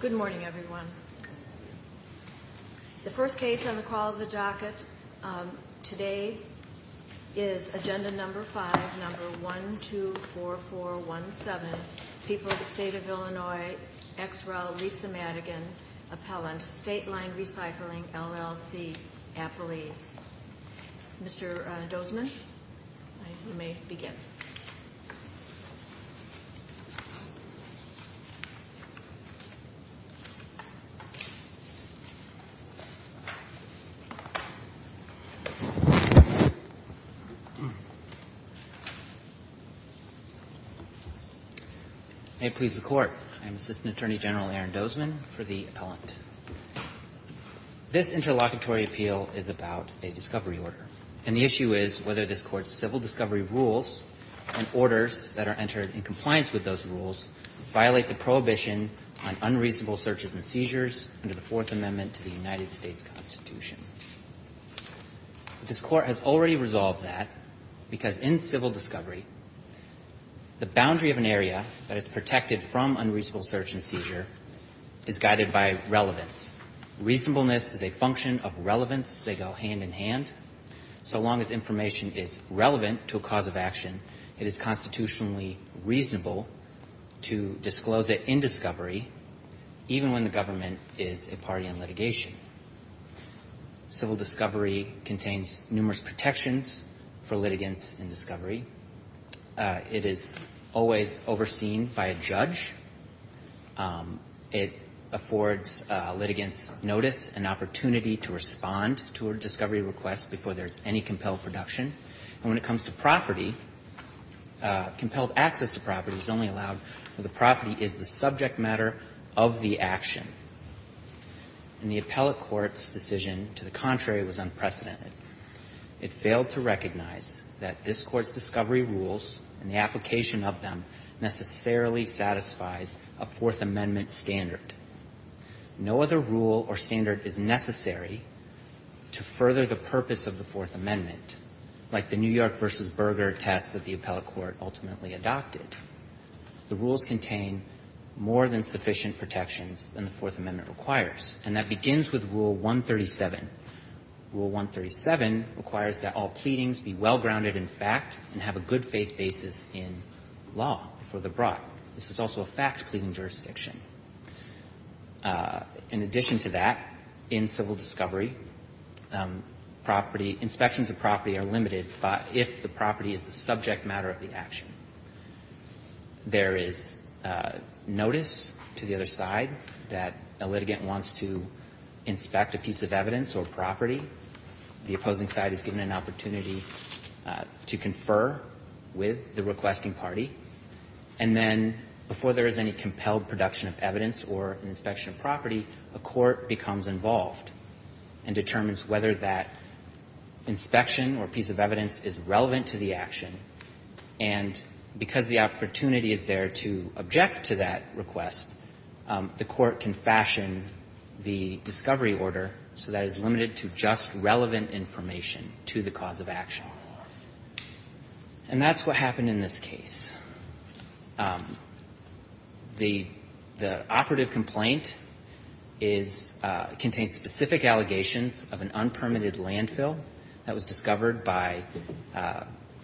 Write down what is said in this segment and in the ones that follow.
Good morning, everyone. The first case on the call of the docket today is agenda number 5, number 124417, People of the State of Illinois ex rel. Lisa Madigan, appellant, Stateline Recycling, LLC, Appalese. Mr. Dozman, you may begin. I am Assistant Attorney General Aaron Dozman for the appellant. This interlocutory appeal is about a discovery order. And the issue is whether this Court's civil discovery rules and orders that are entered in compliance with those rules violate the prohibition on unreasonable searches and seizures under the Fourth Amendment to the United States Constitution. This Court has already resolved that because in civil discovery, the boundary of an area that is protected from unreasonable search and seizure is guided by relevance. Reasonableness is a function of relevance. They go hand in hand. So long as information is relevant to a cause of action, it is constitutionally reasonable to disclose it in discovery, even when the government is a party in litigation. Civil discovery contains numerous protections for litigants in discovery. It is always overseen by a judge. It affords litigants notice and opportunity to respond to a discovery request before there is any compelled production. And when it comes to property, compelled access to property is only allowed when the property is the subject matter of the action. And the appellate court's decision to the contrary was unprecedented. It failed to recognize that this Court's discovery rules and the application of them necessarily satisfies a Fourth Amendment standard. No other rule or standard is necessary to further the purpose of the Fourth Amendment like the New York v. Berger test that the appellate court ultimately adopted. The rules contain more than sufficient protections than the Fourth Amendment requires, and that begins with Rule 137. Rule 137 requires that all pleadings be well-grounded in fact and have a good-faith basis in law before they're brought. This is also a fact-pleading jurisdiction. In addition to that, in civil discovery, inspections of property are limited if the property is the subject matter of the action. There is notice to the other side that a litigant wants to inspect a piece of evidence or property. The opposing side is given an opportunity to confer with the requesting party. And then before there is any compelled production of evidence or an inspection of property, a court becomes involved and determines whether that inspection or piece of evidence is relevant to the action. And because the opportunity is there to object to that request, the court can fashion the discovery order so that it's limited to just relevant information to the cause of action. And that's what happened in this case. The operative complaint contains specific allegations of an unpermitted landfill that was discovered by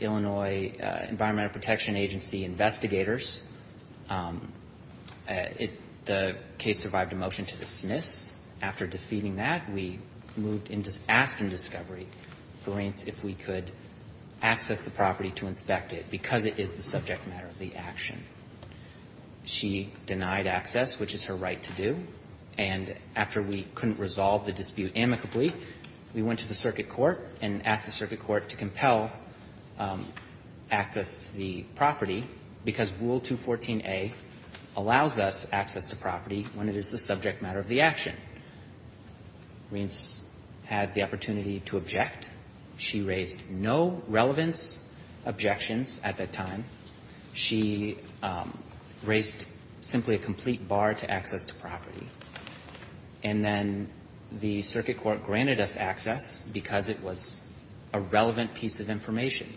Illinois Environmental Protection Agency investigators. The case survived a motion to dismiss. After defeating that, we moved into asked in discovery if we could access the property to inspect it because it is the subject matter of the action. She denied access, which is her right to do. And after we couldn't resolve the dispute amicably, we went to the circuit court and asked the circuit court to compel access to the property because Rule 214a allows us access to property when it is the subject matter of the action. Reince had the opportunity to object. She raised no relevance objections at that time. She raised simply a complete bar to access to property. And then the circuit court granted us access because it was a relevant piece of information.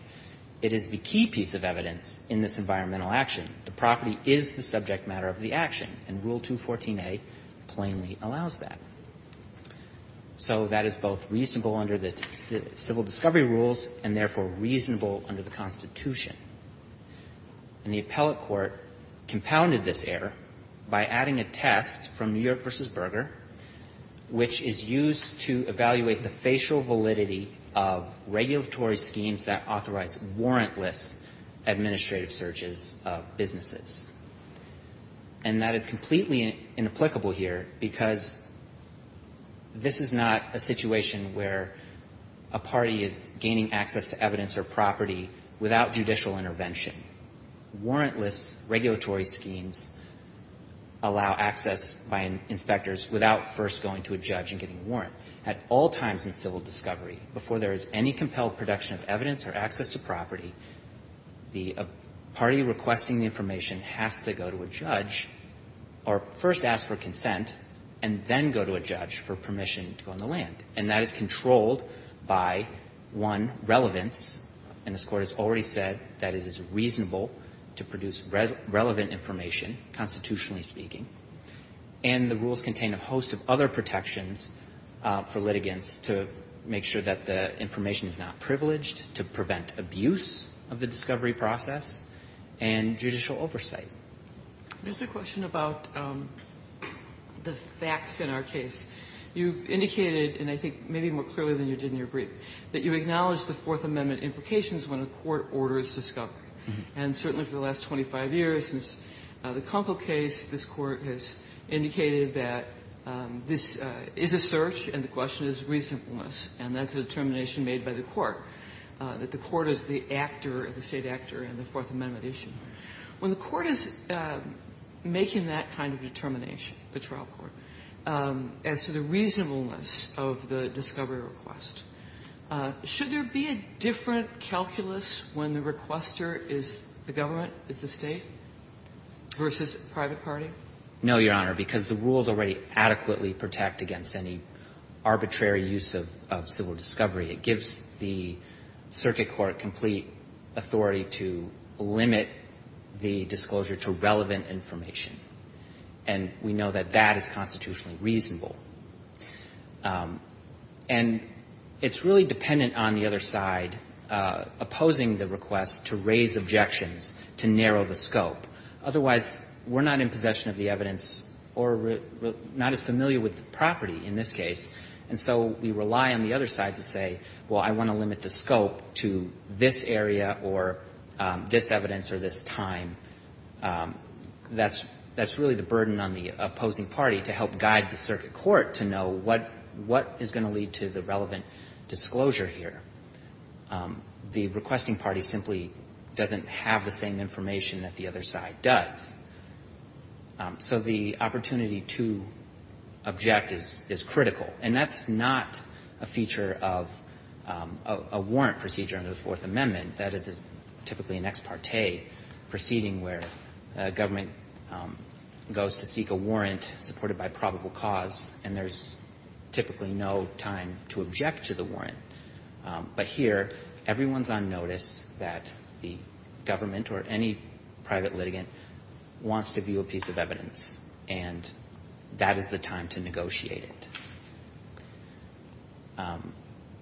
It is the key piece of evidence in this environmental action. The property is the subject matter of the action. And Rule 214a plainly allows that. So that is both reasonable under the civil discovery rules and therefore reasonable under the Constitution. And the appellate court compounded this error by adding a test from New York v. Berger, which is used to evaluate the facial validity of regulatory schemes that authorize warrantless administrative searches of businesses. And that is completely inapplicable here because this is not a situation where a party is gaining access to evidence or property without judicial intervention. Warrantless regulatory schemes allow access by inspectors without first going to a judge and getting a warrant. At all times in civil discovery, before there is any compelled production of evidence or access to property, the party requesting the information has to go to a judge or first ask for consent and then go to a judge for permission to go on the land. And that is controlled by, one, relevance. And this Court has already said that it is reasonable to produce relevant information, constitutionally speaking. And the rules contain a host of other protections for litigants to make sure that the information is not privileged, to prevent abuse of the discovery process, and judicial oversight. Kagan. There is a question about the facts in our case. You have indicated, and I think maybe more clearly than you did in your brief, that you acknowledge the Fourth Amendment implications when a court orders discovery. And certainly for the last 25 years, since the Kunkel case, this Court has indicated that this is a search and the question is reasonableness, and that is a determination made by the Court, that the Court is the actor, the State actor in the Fourth Amendment issue. When the Court is making that kind of determination, the trial court, as to the reasonableness of the discovery request, should there be a different calculus when the requester is the government, is the State, versus a private party? No, Your Honor, because the rules already adequately protect against any arbitrary use of civil discovery. It gives the circuit court complete authority to limit the disclosure to relevant information, and we know that that is constitutionally reasonable. And it's really dependent on the other side opposing the request to raise objections to narrow the scope. Otherwise, we're not in possession of the evidence or not as familiar with the property in this case. And so we rely on the other side to say, well, I want to limit the scope to this area or this evidence or this time. That's really the burden on the opposing party to help guide the circuit court to know what is going to lead to the relevant disclosure here. The requesting party simply doesn't have the same information that the other side does. So the opportunity to object is critical. And that's not a feature of a warrant procedure under the Fourth Amendment. That is typically an ex parte proceeding where a government goes to seek a warrant supported by probable cause, and there's typically no time to object to the warrant. But here, everyone's on notice that the government or any private litigant wants to view a piece of evidence, and that is the time to negotiate it.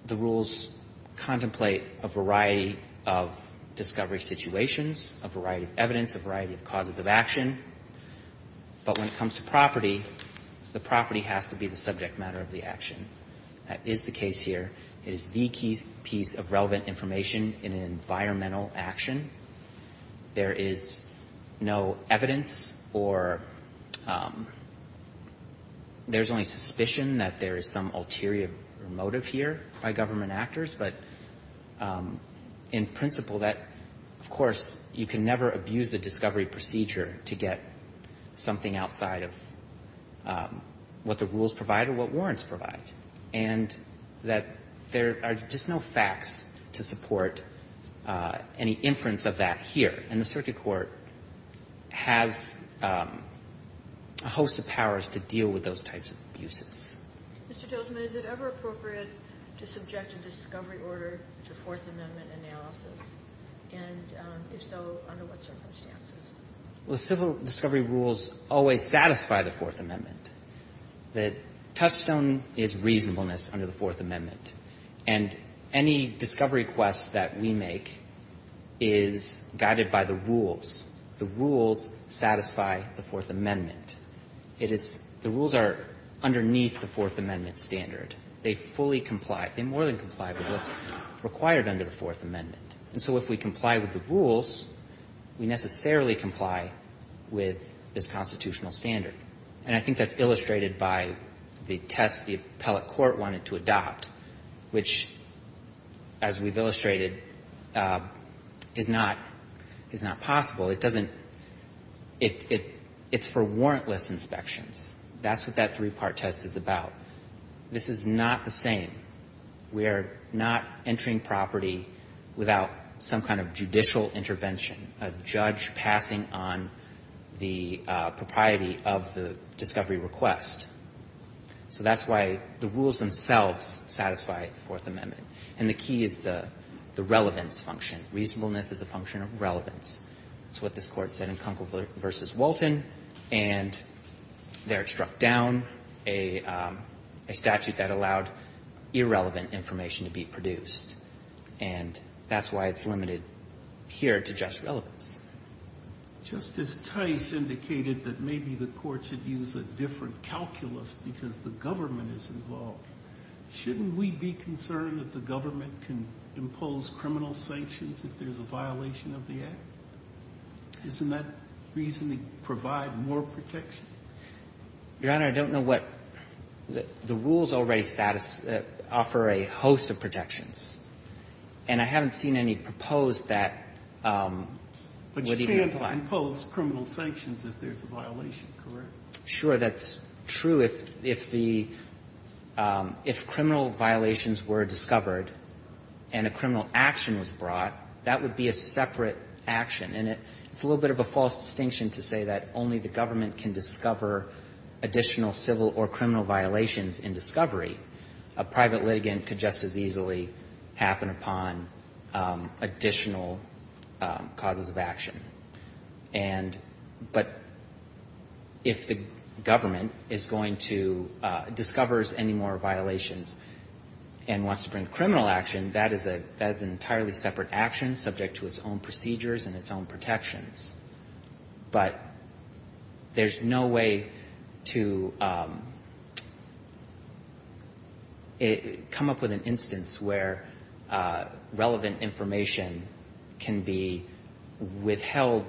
The rules contemplate a variety of discovery situations, a variety of evidence, a variety of causes of action. But when it comes to property, the property has to be the subject matter of the action. That is the case here. It is the piece of relevant information in an environmental action. There is no evidence or there's only suspicion that there is some ulterior motive here by government actors. But in principle, that, of course, you can never abuse the discovery procedure to get something outside of what the rules provide or what warrants provide. And that there are just no facts to support any inference of that here. And the circuit court has a host of powers to deal with those types of abuses. Mr. Tosman, is it ever appropriate to subject a discovery order to Fourth Amendment analysis? And if so, under what circumstances? Well, civil discovery rules always satisfy the Fourth Amendment. The touchstone is reasonableness under the Fourth Amendment. And any discovery request that we make is guided by the rules. The rules satisfy the Fourth Amendment. It is the rules are underneath the Fourth Amendment standard. They fully comply. They more than comply with what's required under the Fourth Amendment. And so if we comply with the rules, we necessarily comply with this constitutional standard. And I think that's illustrated by the test the appellate court wanted to adopt, which, as we've illustrated, is not possible. It doesn't — it's for warrantless inspections. That's what that three-part test is about. This is not the same. We are not entering property without some kind of judicial intervention, a judge passing on the propriety of the discovery request. So that's why the rules themselves satisfy the Fourth Amendment. And the key is the relevance function. Reasonableness is a function of relevance. That's what this Court said in Kunkel v. Walton. And there it struck down a statute that allowed irrelevant information to be produced. And that's why it's limited here to just relevance. Justice Tice indicated that maybe the Court should use a different calculus because the government is involved. Shouldn't we be concerned that the government can impose criminal sanctions if there's a violation of the Act? Doesn't that reasonably provide more protection? Your Honor, I don't know what — the rules already offer a host of protections. And I haven't seen any proposed that would even apply. But you can't impose criminal sanctions if there's a violation, correct? Sure. That's true. If the — if criminal violations were discovered and a criminal action was brought, that would be a separate action. And it's a little bit of a false distinction to say that only the government can discover additional civil or criminal violations in discovery. A private litigant could just as easily happen upon additional causes of action. And — but if the government is going to — discovers any more violations and wants to bring criminal action, that is an entirely separate action, subject to its own procedures and its own protections. But there's no way to come up with an instance where relevant information can be withheld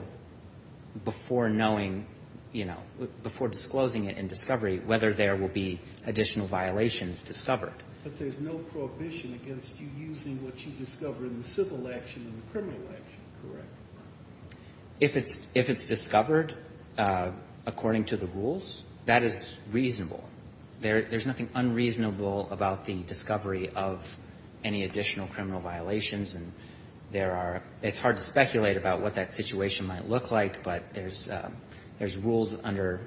before knowing — you know, before disclosing it in discovery, whether there will be additional violations discovered. But there's no prohibition against you using what you discover in the civil action and the criminal action, correct? If it's — if it's discovered according to the rules, that is reasonable. There's nothing unreasonable about the discovery of any additional criminal violations. And there are — it's hard to speculate about what that situation might look like, but there's rules under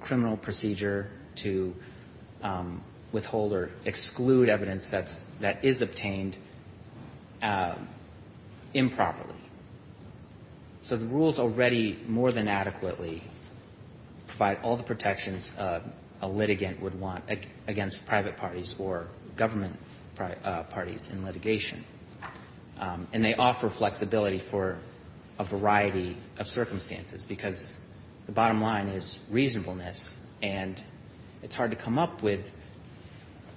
criminal procedure to withhold or exclude evidence that's — improperly. So the rules already more than adequately provide all the protections a litigant would want against private parties or government parties in litigation. And they offer flexibility for a variety of circumstances, because the bottom line is reasonableness, and it's hard to come up with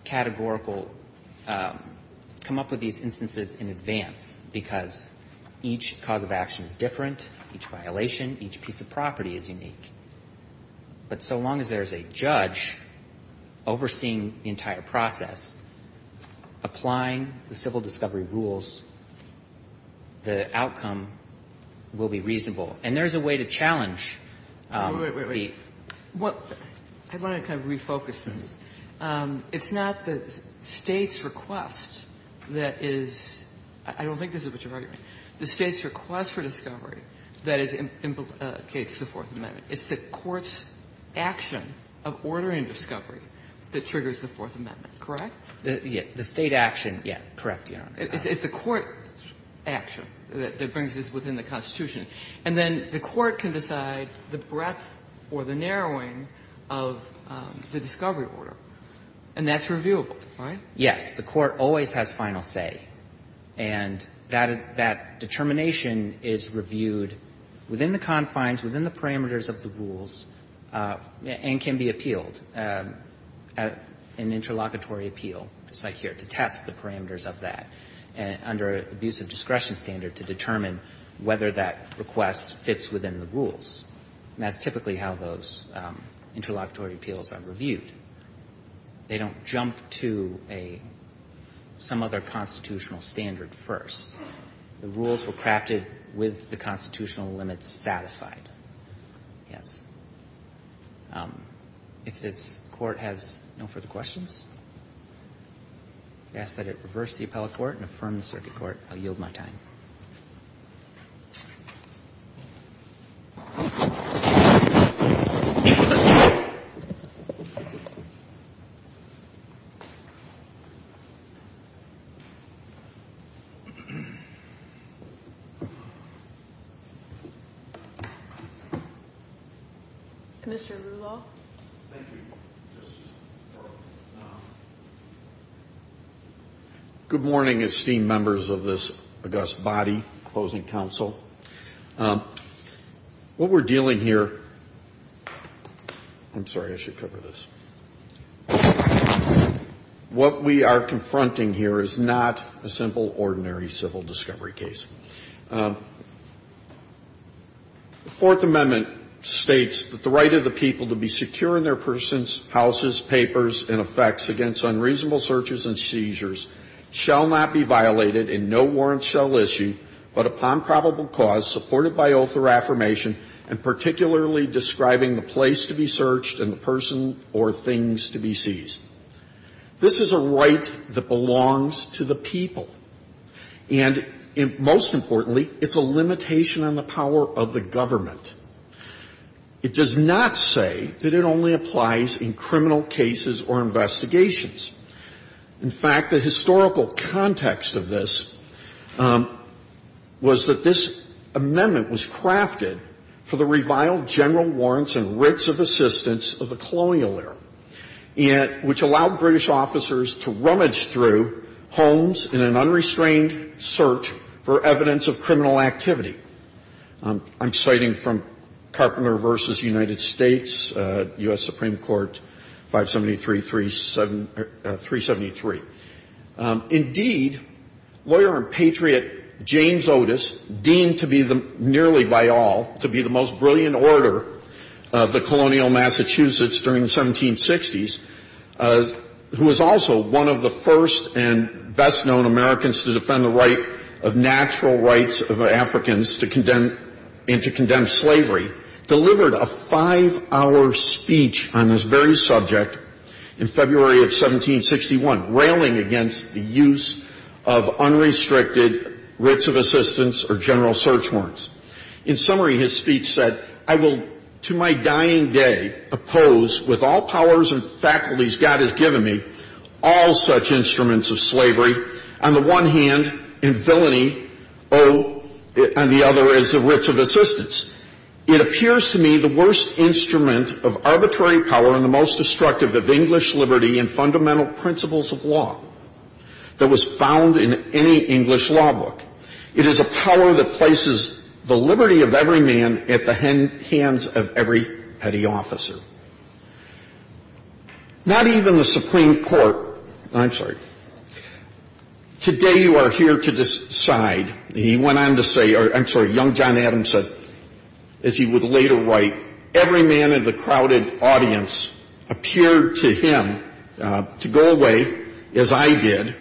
categorical — categorical reasons because each cause of action is different, each violation, each piece of property is unique. But so long as there's a judge overseeing the entire process, applying the civil discovery rules, the outcome will be reasonable. And there's a way to challenge the — Kagan. Wait, wait, wait. I want to kind of refocus this. It's not the State's request that is — I don't think this is what you're arguing. The State's request for discovery that is — implicates the Fourth Amendment. It's the court's action of ordering discovery that triggers the Fourth Amendment, correct? The State action, yeah, correct, Your Honor. It's the court action that brings this within the Constitution. And then the court can decide the breadth or the narrowing of the discovery order, and that's reviewable, right? Yes. The court always has final say. And that determination is reviewed within the confines, within the parameters of the rules, and can be appealed at an interlocutory appeal, just like here, to test the parameters of that under an abuse of discretion standard to determine whether that request fits within the rules. And that's typically how those interlocutory appeals are reviewed. They don't jump to a — some other constitutional standard first. The rules were crafted with the constitutional limits satisfied. Yes. If this Court has no further questions, I ask that it reverse the appellate court and affirm the circuit court. I'll yield my time. Thank you. Mr. Ruble. Thank you, Justice Breyer. Good morning, esteemed members of this august body, Closing Counsel. What we're dealing here — I'm sorry, I should cover this. What we are confronting here is not a simple, ordinary civil discovery case. The Fourth Amendment states that the right of the people to be secure in their persons, houses, papers, and effects against unreasonable searches and seizures shall not be violated in no warrant shall issue, but upon probable cause supported by oath or affirmation, and particularly describing the place to be searched and the person or things to be seized. This is a right that belongs to the people. And most importantly, it's a limitation on the power of the government. It does not say that it only applies in criminal cases or investigations. In fact, the historical context of this was that this amendment was crafted for the reviled general warrants and rigs of assistance of the colonial era, which allowed British officers to rummage through homes in an unrestrained search for evidence of criminal activity. I'm citing from Carpenter v. United States, U.S. Supreme Court, 573-373. Indeed, lawyer and patriot James Otis, deemed to be the — nearly by all — to be the most brilliant orator of the colonial Massachusetts during the 1760s, who was also one of the first and best-known Americans to defend the right of natural rights of Africans to condemn — and to condemn slavery, delivered a five-hour speech on this very subject in February of 1761, railing against the use of unrestricted rigs of assistance or general search warrants. In summary, his speech said, I will to my dying day oppose, with all powers and faculties God has given me, all such instruments of slavery. On the one hand, in villainy, oh, and the other is the rigs of assistance. It appears to me the worst instrument of arbitrary power and the most destructive of English liberty and fundamental principles of law that was found in any English law book. It is a power that places the liberty of every man at the hands of every petty officer. Not even the Supreme Court — I'm sorry. Today you are here to decide. He went on to say — or, I'm sorry, young John Adams said, as he would later write, every man in the crowded audience appeared to him to go away, as I did,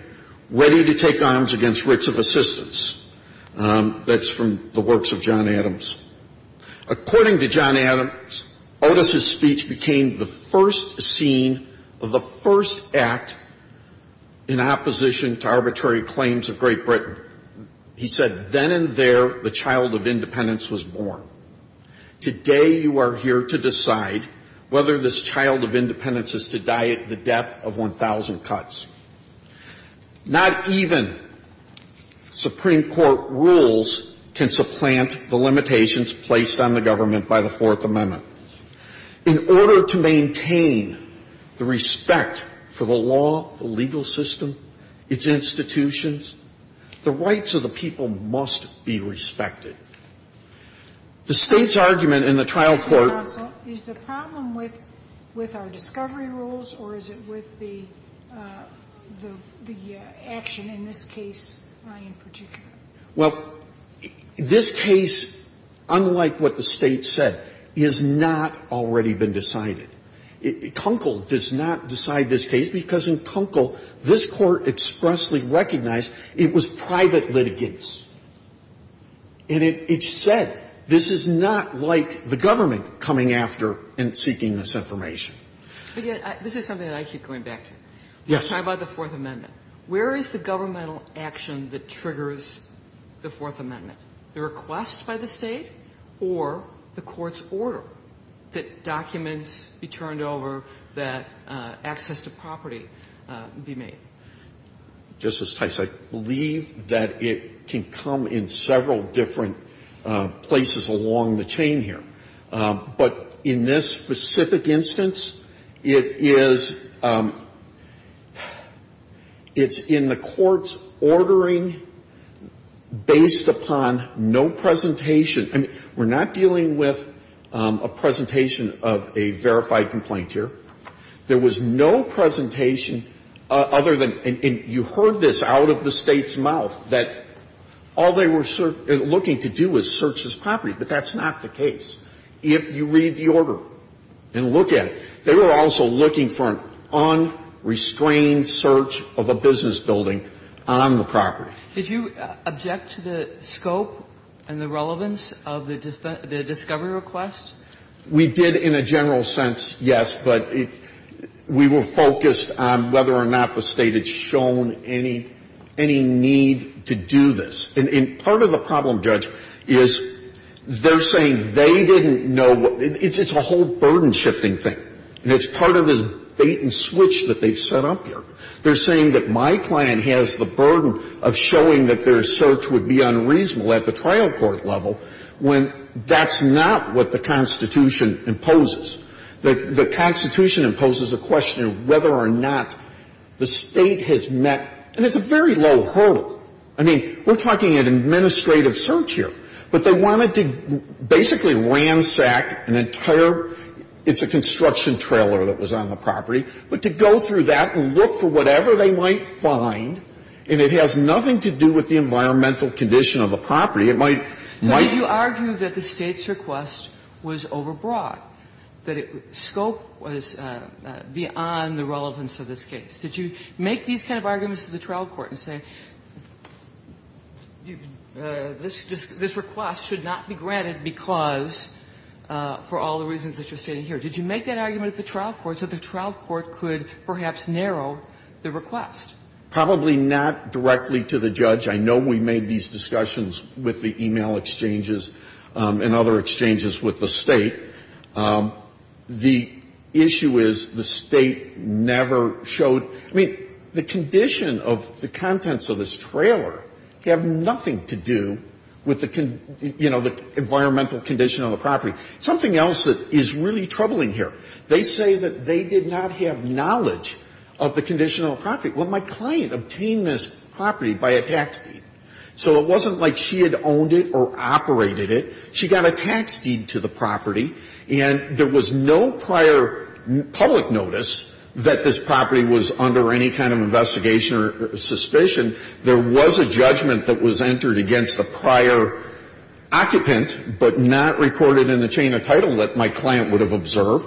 ready to take arms against rigs of assistance. That's from the works of John Adams. According to John Adams, Otis's speech became the first scene of the first act in opposition to arbitrary claims of Great Britain. He said, then and there the child of independence was born. Today you are here to decide whether this child of independence is to die at the death of 1,000 cuts. Not even Supreme Court rules can supplant the limitations placed on the government by the Fourth Amendment. In order to maintain the respect for the law, the legal system, its institutions, the rights of the people must be respected. The State's argument in the trial court — Sotomayor, did you have a problem with our discovery rules, or is it with the action in this case in particular? Well, this case, unlike what the State said, has not already been decided. Kunkel does not decide this case, because in Kunkel, this Court expressly recognized it was private litigants. And it said this is not like the government coming after and seeking this information. But yet, this is something that I keep going back to. Yes. We're talking about the Fourth Amendment. Where is the governmental action that triggers the Fourth Amendment? The request by the State or the court's order that documents be turned over, that access to property be made? Justice Tice, I believe that it can come in several different places along the chain here. But in this specific instance, it is — it's in the court's ordering based upon no presentation. I mean, we're not dealing with a presentation of a verified complaint here. There was no presentation other than — and you heard this out of the State's mouth, that all they were looking to do was search this property. But that's not the case. If you read the order and look at it, they were also looking for an unrestrained search of a business building on the property. Did you object to the scope and the relevance of the discovery request? We did in a general sense, yes, but we were focused on whether or not the State had shown any need to do this. And part of the problem, Judge, is they're saying they didn't know what — it's a whole burden-shifting thing. And it's part of this bait-and-switch that they've set up here. They're saying that my client has the burden of showing that their search would be unreasonable at the trial court level when that's not what the Constitution imposes. The Constitution imposes a question of whether or not the State has met — and it's a very low hurdle. I mean, we're talking an administrative search here. But they wanted to basically ransack an entire — it's a construction trailer that was on the property, but to go through that and look for whatever they might find, and it has nothing to do with the environmental condition of the property, it might — So did you argue that the State's request was overbroad, that it — scope was beyond the relevance of this case? Did you make these kind of arguments at the trial court and say, this request should not be granted because — for all the reasons that you're stating here? Did you make that argument at the trial court so the trial court could perhaps narrow the request? Probably not directly to the judge. I know we made these discussions with the e-mail exchanges and other exchanges with the State. The issue is the State never showed — I mean, the condition of the contents of this trailer have nothing to do with the, you know, the environmental condition of the property. Something else that is really troubling here, they say that they did not have knowledge of the condition of the property. Well, my client obtained this property by a tax deed. So it wasn't like she had owned it or operated it. She got a tax deed to the property, and there was no prior public notice that this property was under any kind of investigation or suspicion. There was a judgment that was entered against the prior occupant, but not recorded in the chain of title that my client would have observed,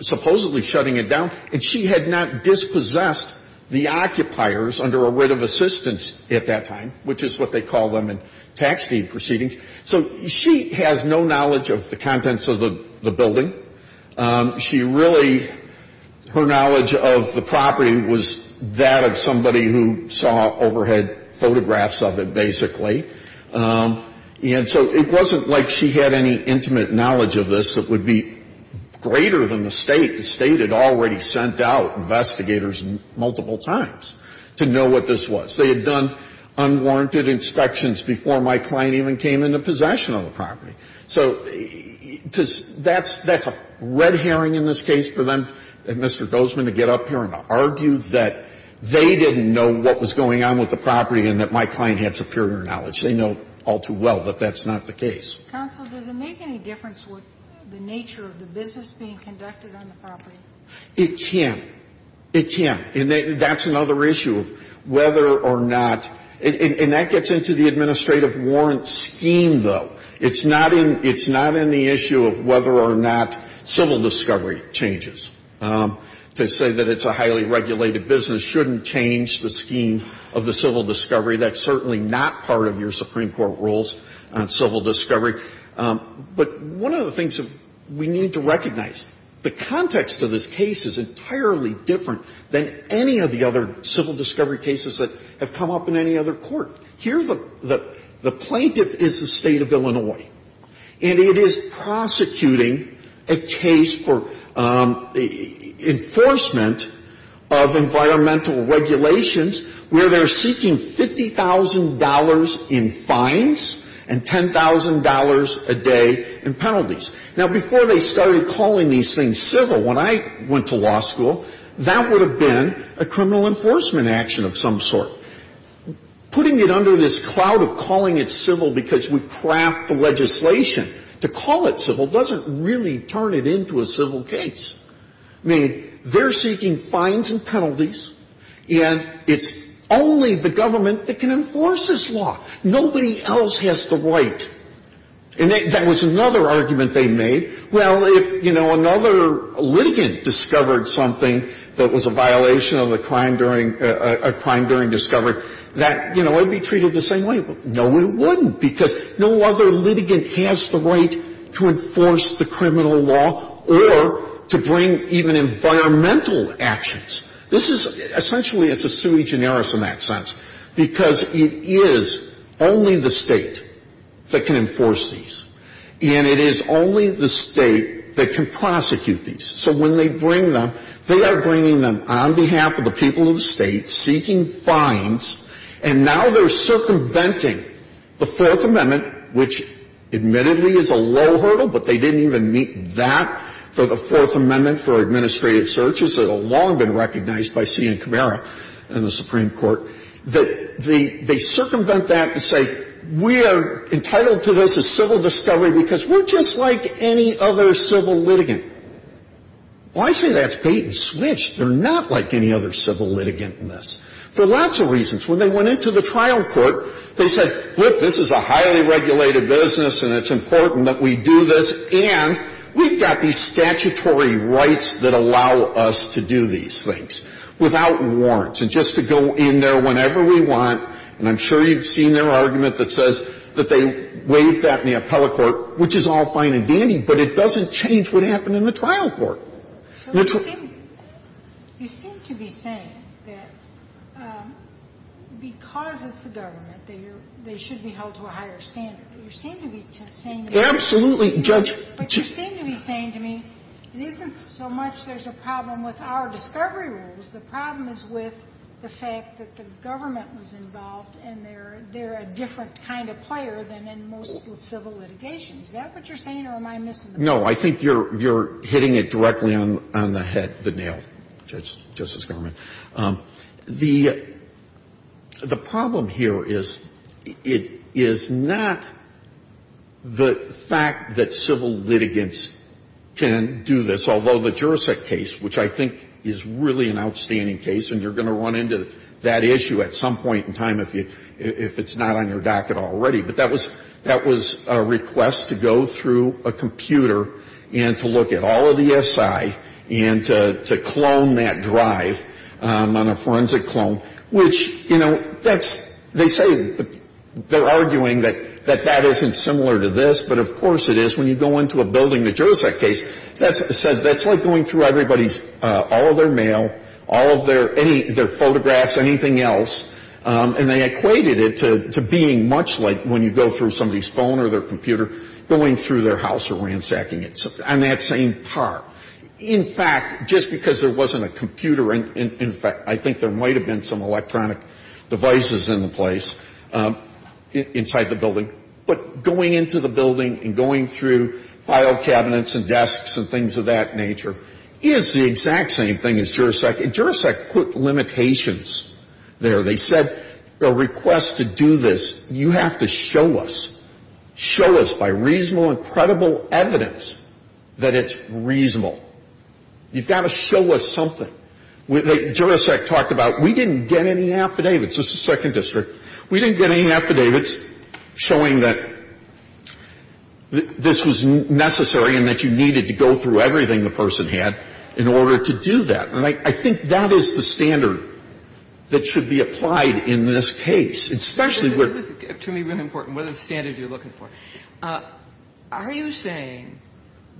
supposedly shutting it down. And she had not dispossessed the occupiers under a writ of assistance at that time, which is what they call them in tax deed proceedings. So she has no knowledge of the contents of the building. She really — her knowledge of the property was that of somebody who saw overhead photographs of it, basically. And so it wasn't like she had any intimate knowledge of this that would be greater than the State. The State had already sent out investigators multiple times to know what this was. They had done unwarranted inspections before my client even came into possession of the property. So that's a red herring in this case for them, Mr. Gozeman, to get up here and argue that they didn't know what was going on with the property and that my client had superior knowledge. They know all too well that that's not the case. Counsel, does it make any difference what the nature of the business being conducted on the property? It can. It can. And that's another issue of whether or not — and that gets into the administrative warrant scheme, though. It's not in — it's not in the issue of whether or not civil discovery changes. To say that it's a highly regulated business shouldn't change the scheme of the civil discovery. That's certainly not part of your Supreme Court rules on civil discovery. But one of the things that we need to recognize, the context of this case is entirely different than any of the other civil discovery cases that have come up in any other court. Here, the plaintiff is the State of Illinois, and it is prosecuting a case for enforcement of environmental regulations where they're seeking $50,000 in fines and $10,000 a day in penalties. Now, before they started calling these things civil, when I went to law school, that would have been a criminal enforcement action of some sort. Putting it under this cloud of calling it civil because we craft the legislation to call it civil doesn't really turn it into a civil case. I mean, they're seeking fines and penalties, and it's only the government that can enforce this law. Nobody else has the right. And that was another argument they made. Well, if, you know, another litigant discovered something that was a violation of the crime during — a crime during discovery, that, you know, it would be treated the same way. No, it wouldn't, because no other litigant has the right to enforce the criminal law or to bring even environmental actions. This is — essentially, it's a sui generis in that sense, because it is only the State that can enforce these, and it is only the State that can prosecute these. So when they bring them, they are bringing them on behalf of the people of the State, seeking fines, and now they're circumventing the Fourth Amendment, which admittedly is a low hurdle, but they didn't even meet that for the Fourth Amendment for administrative searches that have long been recognized by C.N. Camara in the Supreme Court, that they circumvent that and say, we are entitled to this as civil discovery because we're just like any other civil litigant. Well, I say that's bait and switch. They're not like any other civil litigant in this, for lots of reasons. When they went into the trial court, they said, look, this is a highly regulated business, and it's important that we do this, and we've got these statutory rights that allow us to do these things without warrants, and just to go in there whenever we want, and I'm sure you've seen their argument that says that they waive that in the appellate court, which is all fine and dandy, but it doesn't change what happened in the trial court. So you seem to be saying that because it's the government, they should be held to a higher standard. You seem to be saying that. Absolutely, Judge. But you seem to be saying to me, it isn't so much there's a problem with our discovery rules, the problem is with the fact that the government was involved and they're a different kind of player than in most civil litigations. Is that what you're saying, or am I missing the point? No. I think you're hitting it directly on the head, the nail, Justice Garment. The problem here is, it is not the fact that civil litigants can do this, although the Jurisdict case, which I think is really an outstanding case, and you're going to run into that issue at some point in time if it's not on your docket already, but that was a request to go through a computer and to look at all of the SI and to clone that drive on a forensic clone, which, you know, that's, they say, they're arguing that that isn't similar to this, but of course it is. When you go into a building, the Jurisdict case, that's like going through everybody's all of their mail, all of their photographs, anything else, and they equated it to being much like when you go through somebody's phone or their computer going through their house or ransacking it, on that same part. In fact, just because there wasn't a computer, in fact, I think there might have been some electronic devices in the place inside the building, but going into the building and going through file cabinets and desks and things of that nature is the exact same thing as Jurisdict. Jurisdict put limitations there. They said a request to do this, you have to show us, show us by reasonable and credible evidence that it's reasonable. You've got to show us something. Jurisdict talked about, we didn't get any affidavits. This is Second District. We didn't get any affidavits showing that this was necessary and that you needed to go through everything the person had in order to do that. And I think that is the standard that should be applied in this case, especially where the Standard you're looking for. Are you saying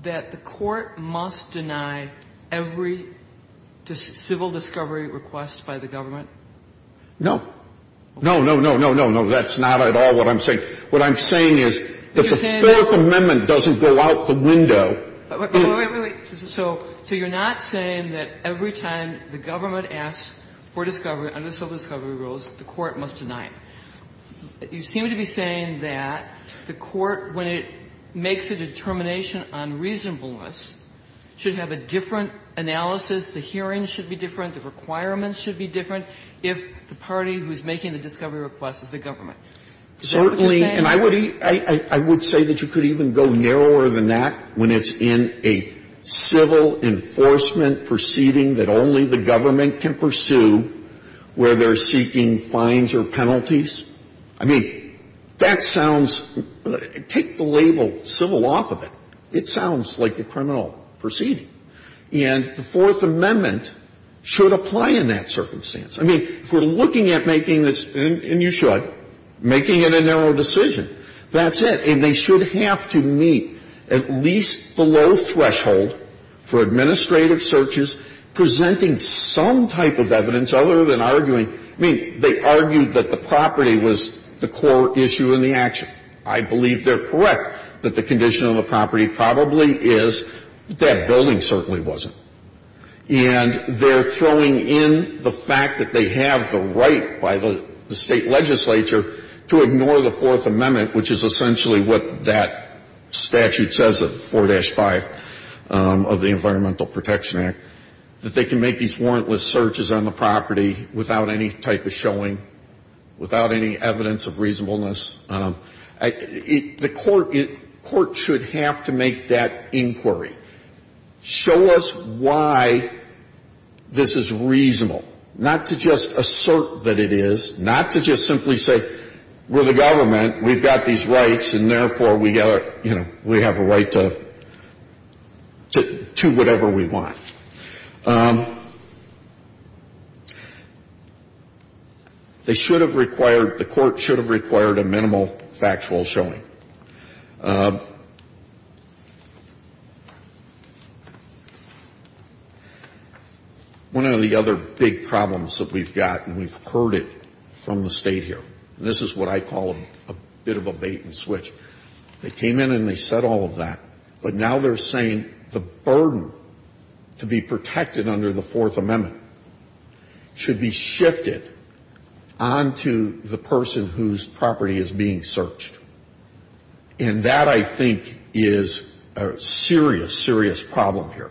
that the Court must deny every civil discovery request by the government? No. No, no, no, no, no, no. That's not at all what I'm saying. Wait, wait, wait. So you're not saying that every time the government asks for discovery under civil discovery rules, the Court must deny it. You seem to be saying that the Court, when it makes a determination on reasonableness, should have a different analysis, the hearing should be different, the requirements should be different if the party who's making the discovery request is the government. Certainly. And I would say that you could even go narrower than that when it's in a civil enforcement proceeding that only the government can pursue where they're seeking fines or penalties. I mean, that sounds – take the label civil off of it. It sounds like a criminal proceeding. And the Fourth Amendment should apply in that circumstance. I mean, if we're looking at making this – and you should – making it a narrow decision, that's it. And they should have to meet at least the low threshold for administrative searches presenting some type of evidence other than arguing – I mean, they argued that the property was the core issue in the action. I believe they're correct that the condition of the property probably is that building certainly wasn't. And they're throwing in the fact that they have the right by the State legislature to ignore the Fourth Amendment, which is essentially what that statute says at 4-5 of the Environmental Protection Act, that they can make these warrantless searches on the property without any type of showing, without any evidence of reasonableness. The court should have to make that inquiry. Show us why this is reasonable. Not to just assert that it is. Not to just simply say, we're the government, we've got these rights, and therefore, we have a right to whatever we want. They should have required – the court should have required a minimal factual showing. One of the other big problems that we've got, and we've heard it from the State here, and this is what I call a bit of a bait-and-switch. They came in and they said all of that, but now they're saying the burden to be protected under the Fourth Amendment should be shifted onto the person whose property is being searched. And that, I think, is a serious, serious problem here.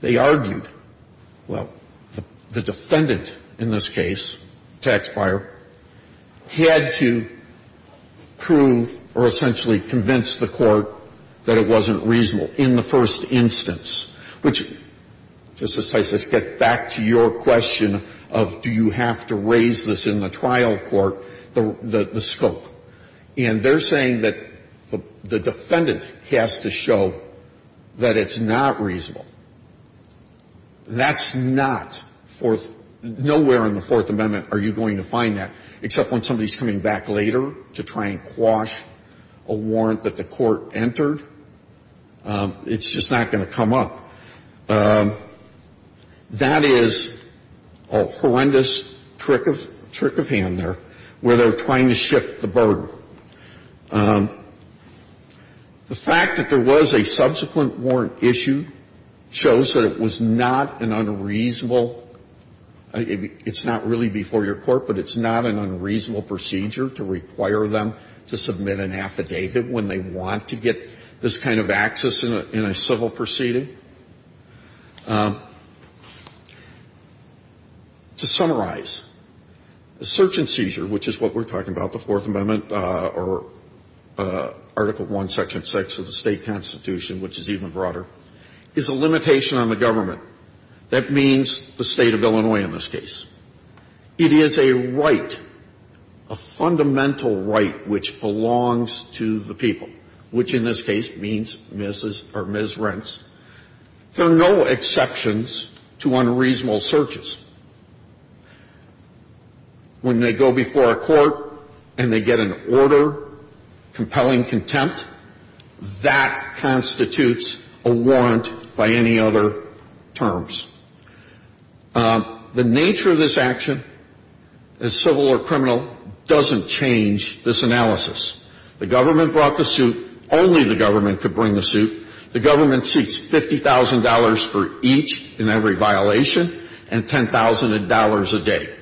They argued, well, the defendant in this case, Taxpayer, had to prove or essentially convince the court that it wasn't reasonable in the first instance, which, Justice Tyson, gets back to your question of do you have to raise this in the trial court, the scope. And they're saying that the defendant has to show that it's not reasonable. That's not Fourth – nowhere in the Fourth Amendment are you going to find that, except when somebody's coming back later to try and quash a warrant that the court entered. It's just not going to come up. That is a horrendous trick of hand there, where they're trying to shift the burden The fact that there was a subsequent warrant issue shows that it was not an unreasonable – it's not really before your court, but it's not an unreasonable procedure to require them to submit an affidavit when they want to get this kind of access in a civil proceeding. To summarize, a search and seizure, which is what we're talking about, the Fourth Amendment or Article I, Section 6 of the State Constitution, which is even broader, is a limitation on the government. That means the State of Illinois in this case. It is a right, a fundamental right, which belongs to the people, which in this case means Ms. or Ms. Rents. There are no exceptions to unreasonable searches. When they go before a court and they get an order, compelling contempt, that constitutes a warrant by any other terms. The nature of this action, as civil or criminal, doesn't change this analysis. The government brought the suit. Only the government could bring the suit. The government seeks $50,000 for each and every violation and $10,000 a day.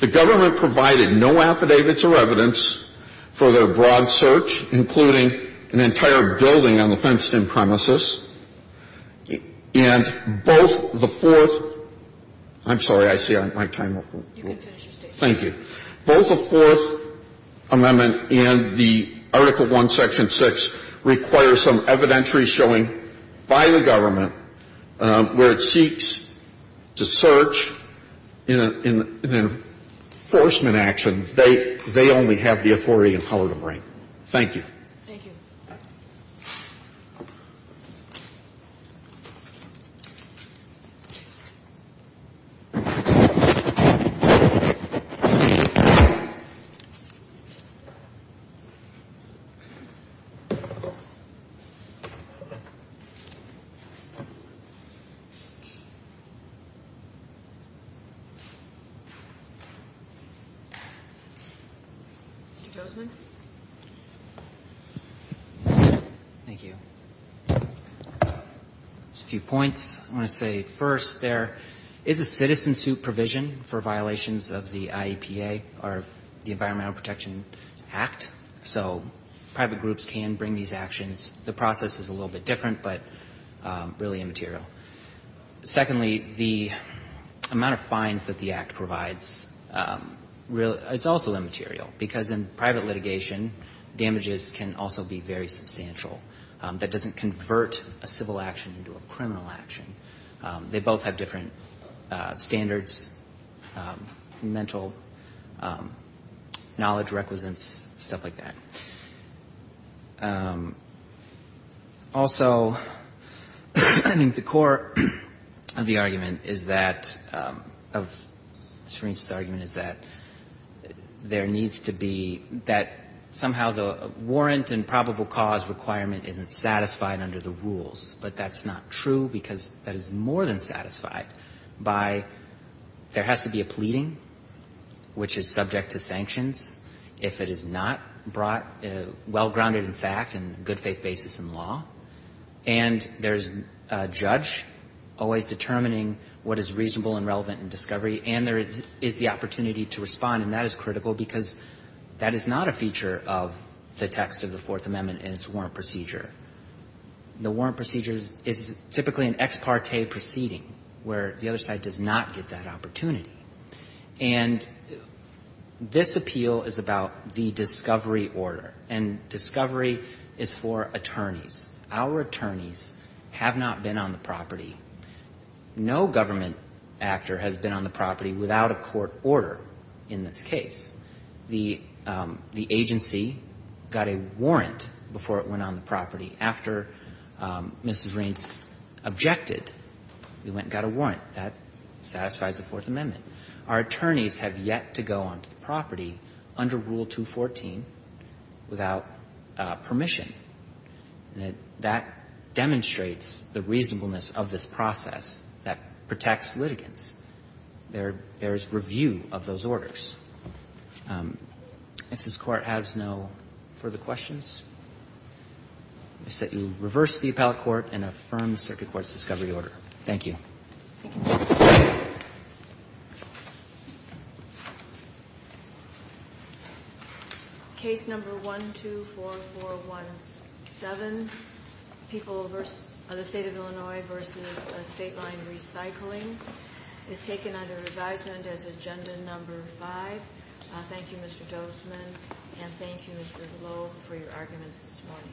The government provided no affidavits or evidence for their broad search, including an entire building on the fenced-in premises. And both the Fourth – I'm sorry. I see my time. Thank you. Both the Fourth Amendment and the Article I, Section 6 require some evidentiary showing by the government where it seeks to search in an enforcement action. They only have the authority and power to bring. Thank you. Thank you. Thank you. Mr. Tozman? Thank you. A few points. I want to say, first, there is a citizen suit provision for violations of the IEPA, or the Environmental Protection Act. So private groups can bring these actions. The process is a little bit different, but really immaterial. Secondly, the amount of fines that the Act provides, it's also immaterial, because in private litigation, damages can also be very substantial. That doesn't convert a civil action into a criminal action. They both have different standards, mental knowledge, requisites, stuff like that. Also, I think the core of the argument is that – of Srinath's argument is that there needs to be – that somehow the warrant and probable cause requirement isn't satisfied under the rules. But that's not true, because that is more than satisfied by – there has to be a pleading, which is subject to sanctions if it is not brought – well-grounded in fact and good faith basis in law. And there's a judge always determining what is reasonable and relevant in discovery. And there is the opportunity to respond, and that is critical, because that is not a feature of the text of the Fourth Amendment and its warrant procedure. The warrant procedure is typically an ex parte proceeding, where the other side does not get that opportunity. And this appeal is about the discovery order. And discovery is for attorneys. Our attorneys have not been on the property. No government actor has been on the property without a court order in this case. The agency got a warrant before it went on the property. After Mrs. Raines objected, we went and got a warrant. That satisfies the Fourth Amendment. Our attorneys have yet to go onto the property under Rule 214 without permission. That demonstrates the reasonableness of this process that protects litigants. There is review of those orders. If this Court has no further questions, I set you reverse the appellate court and affirm the circuit court's discovery order. Thank you. Thank you. Case number 124417, People v. State of Illinois v. State Line Recycling, is taken under advisement as Agenda No. 5. Thank you, Mr. Dozman, and thank you, Mr. Globe, for your arguments this morning.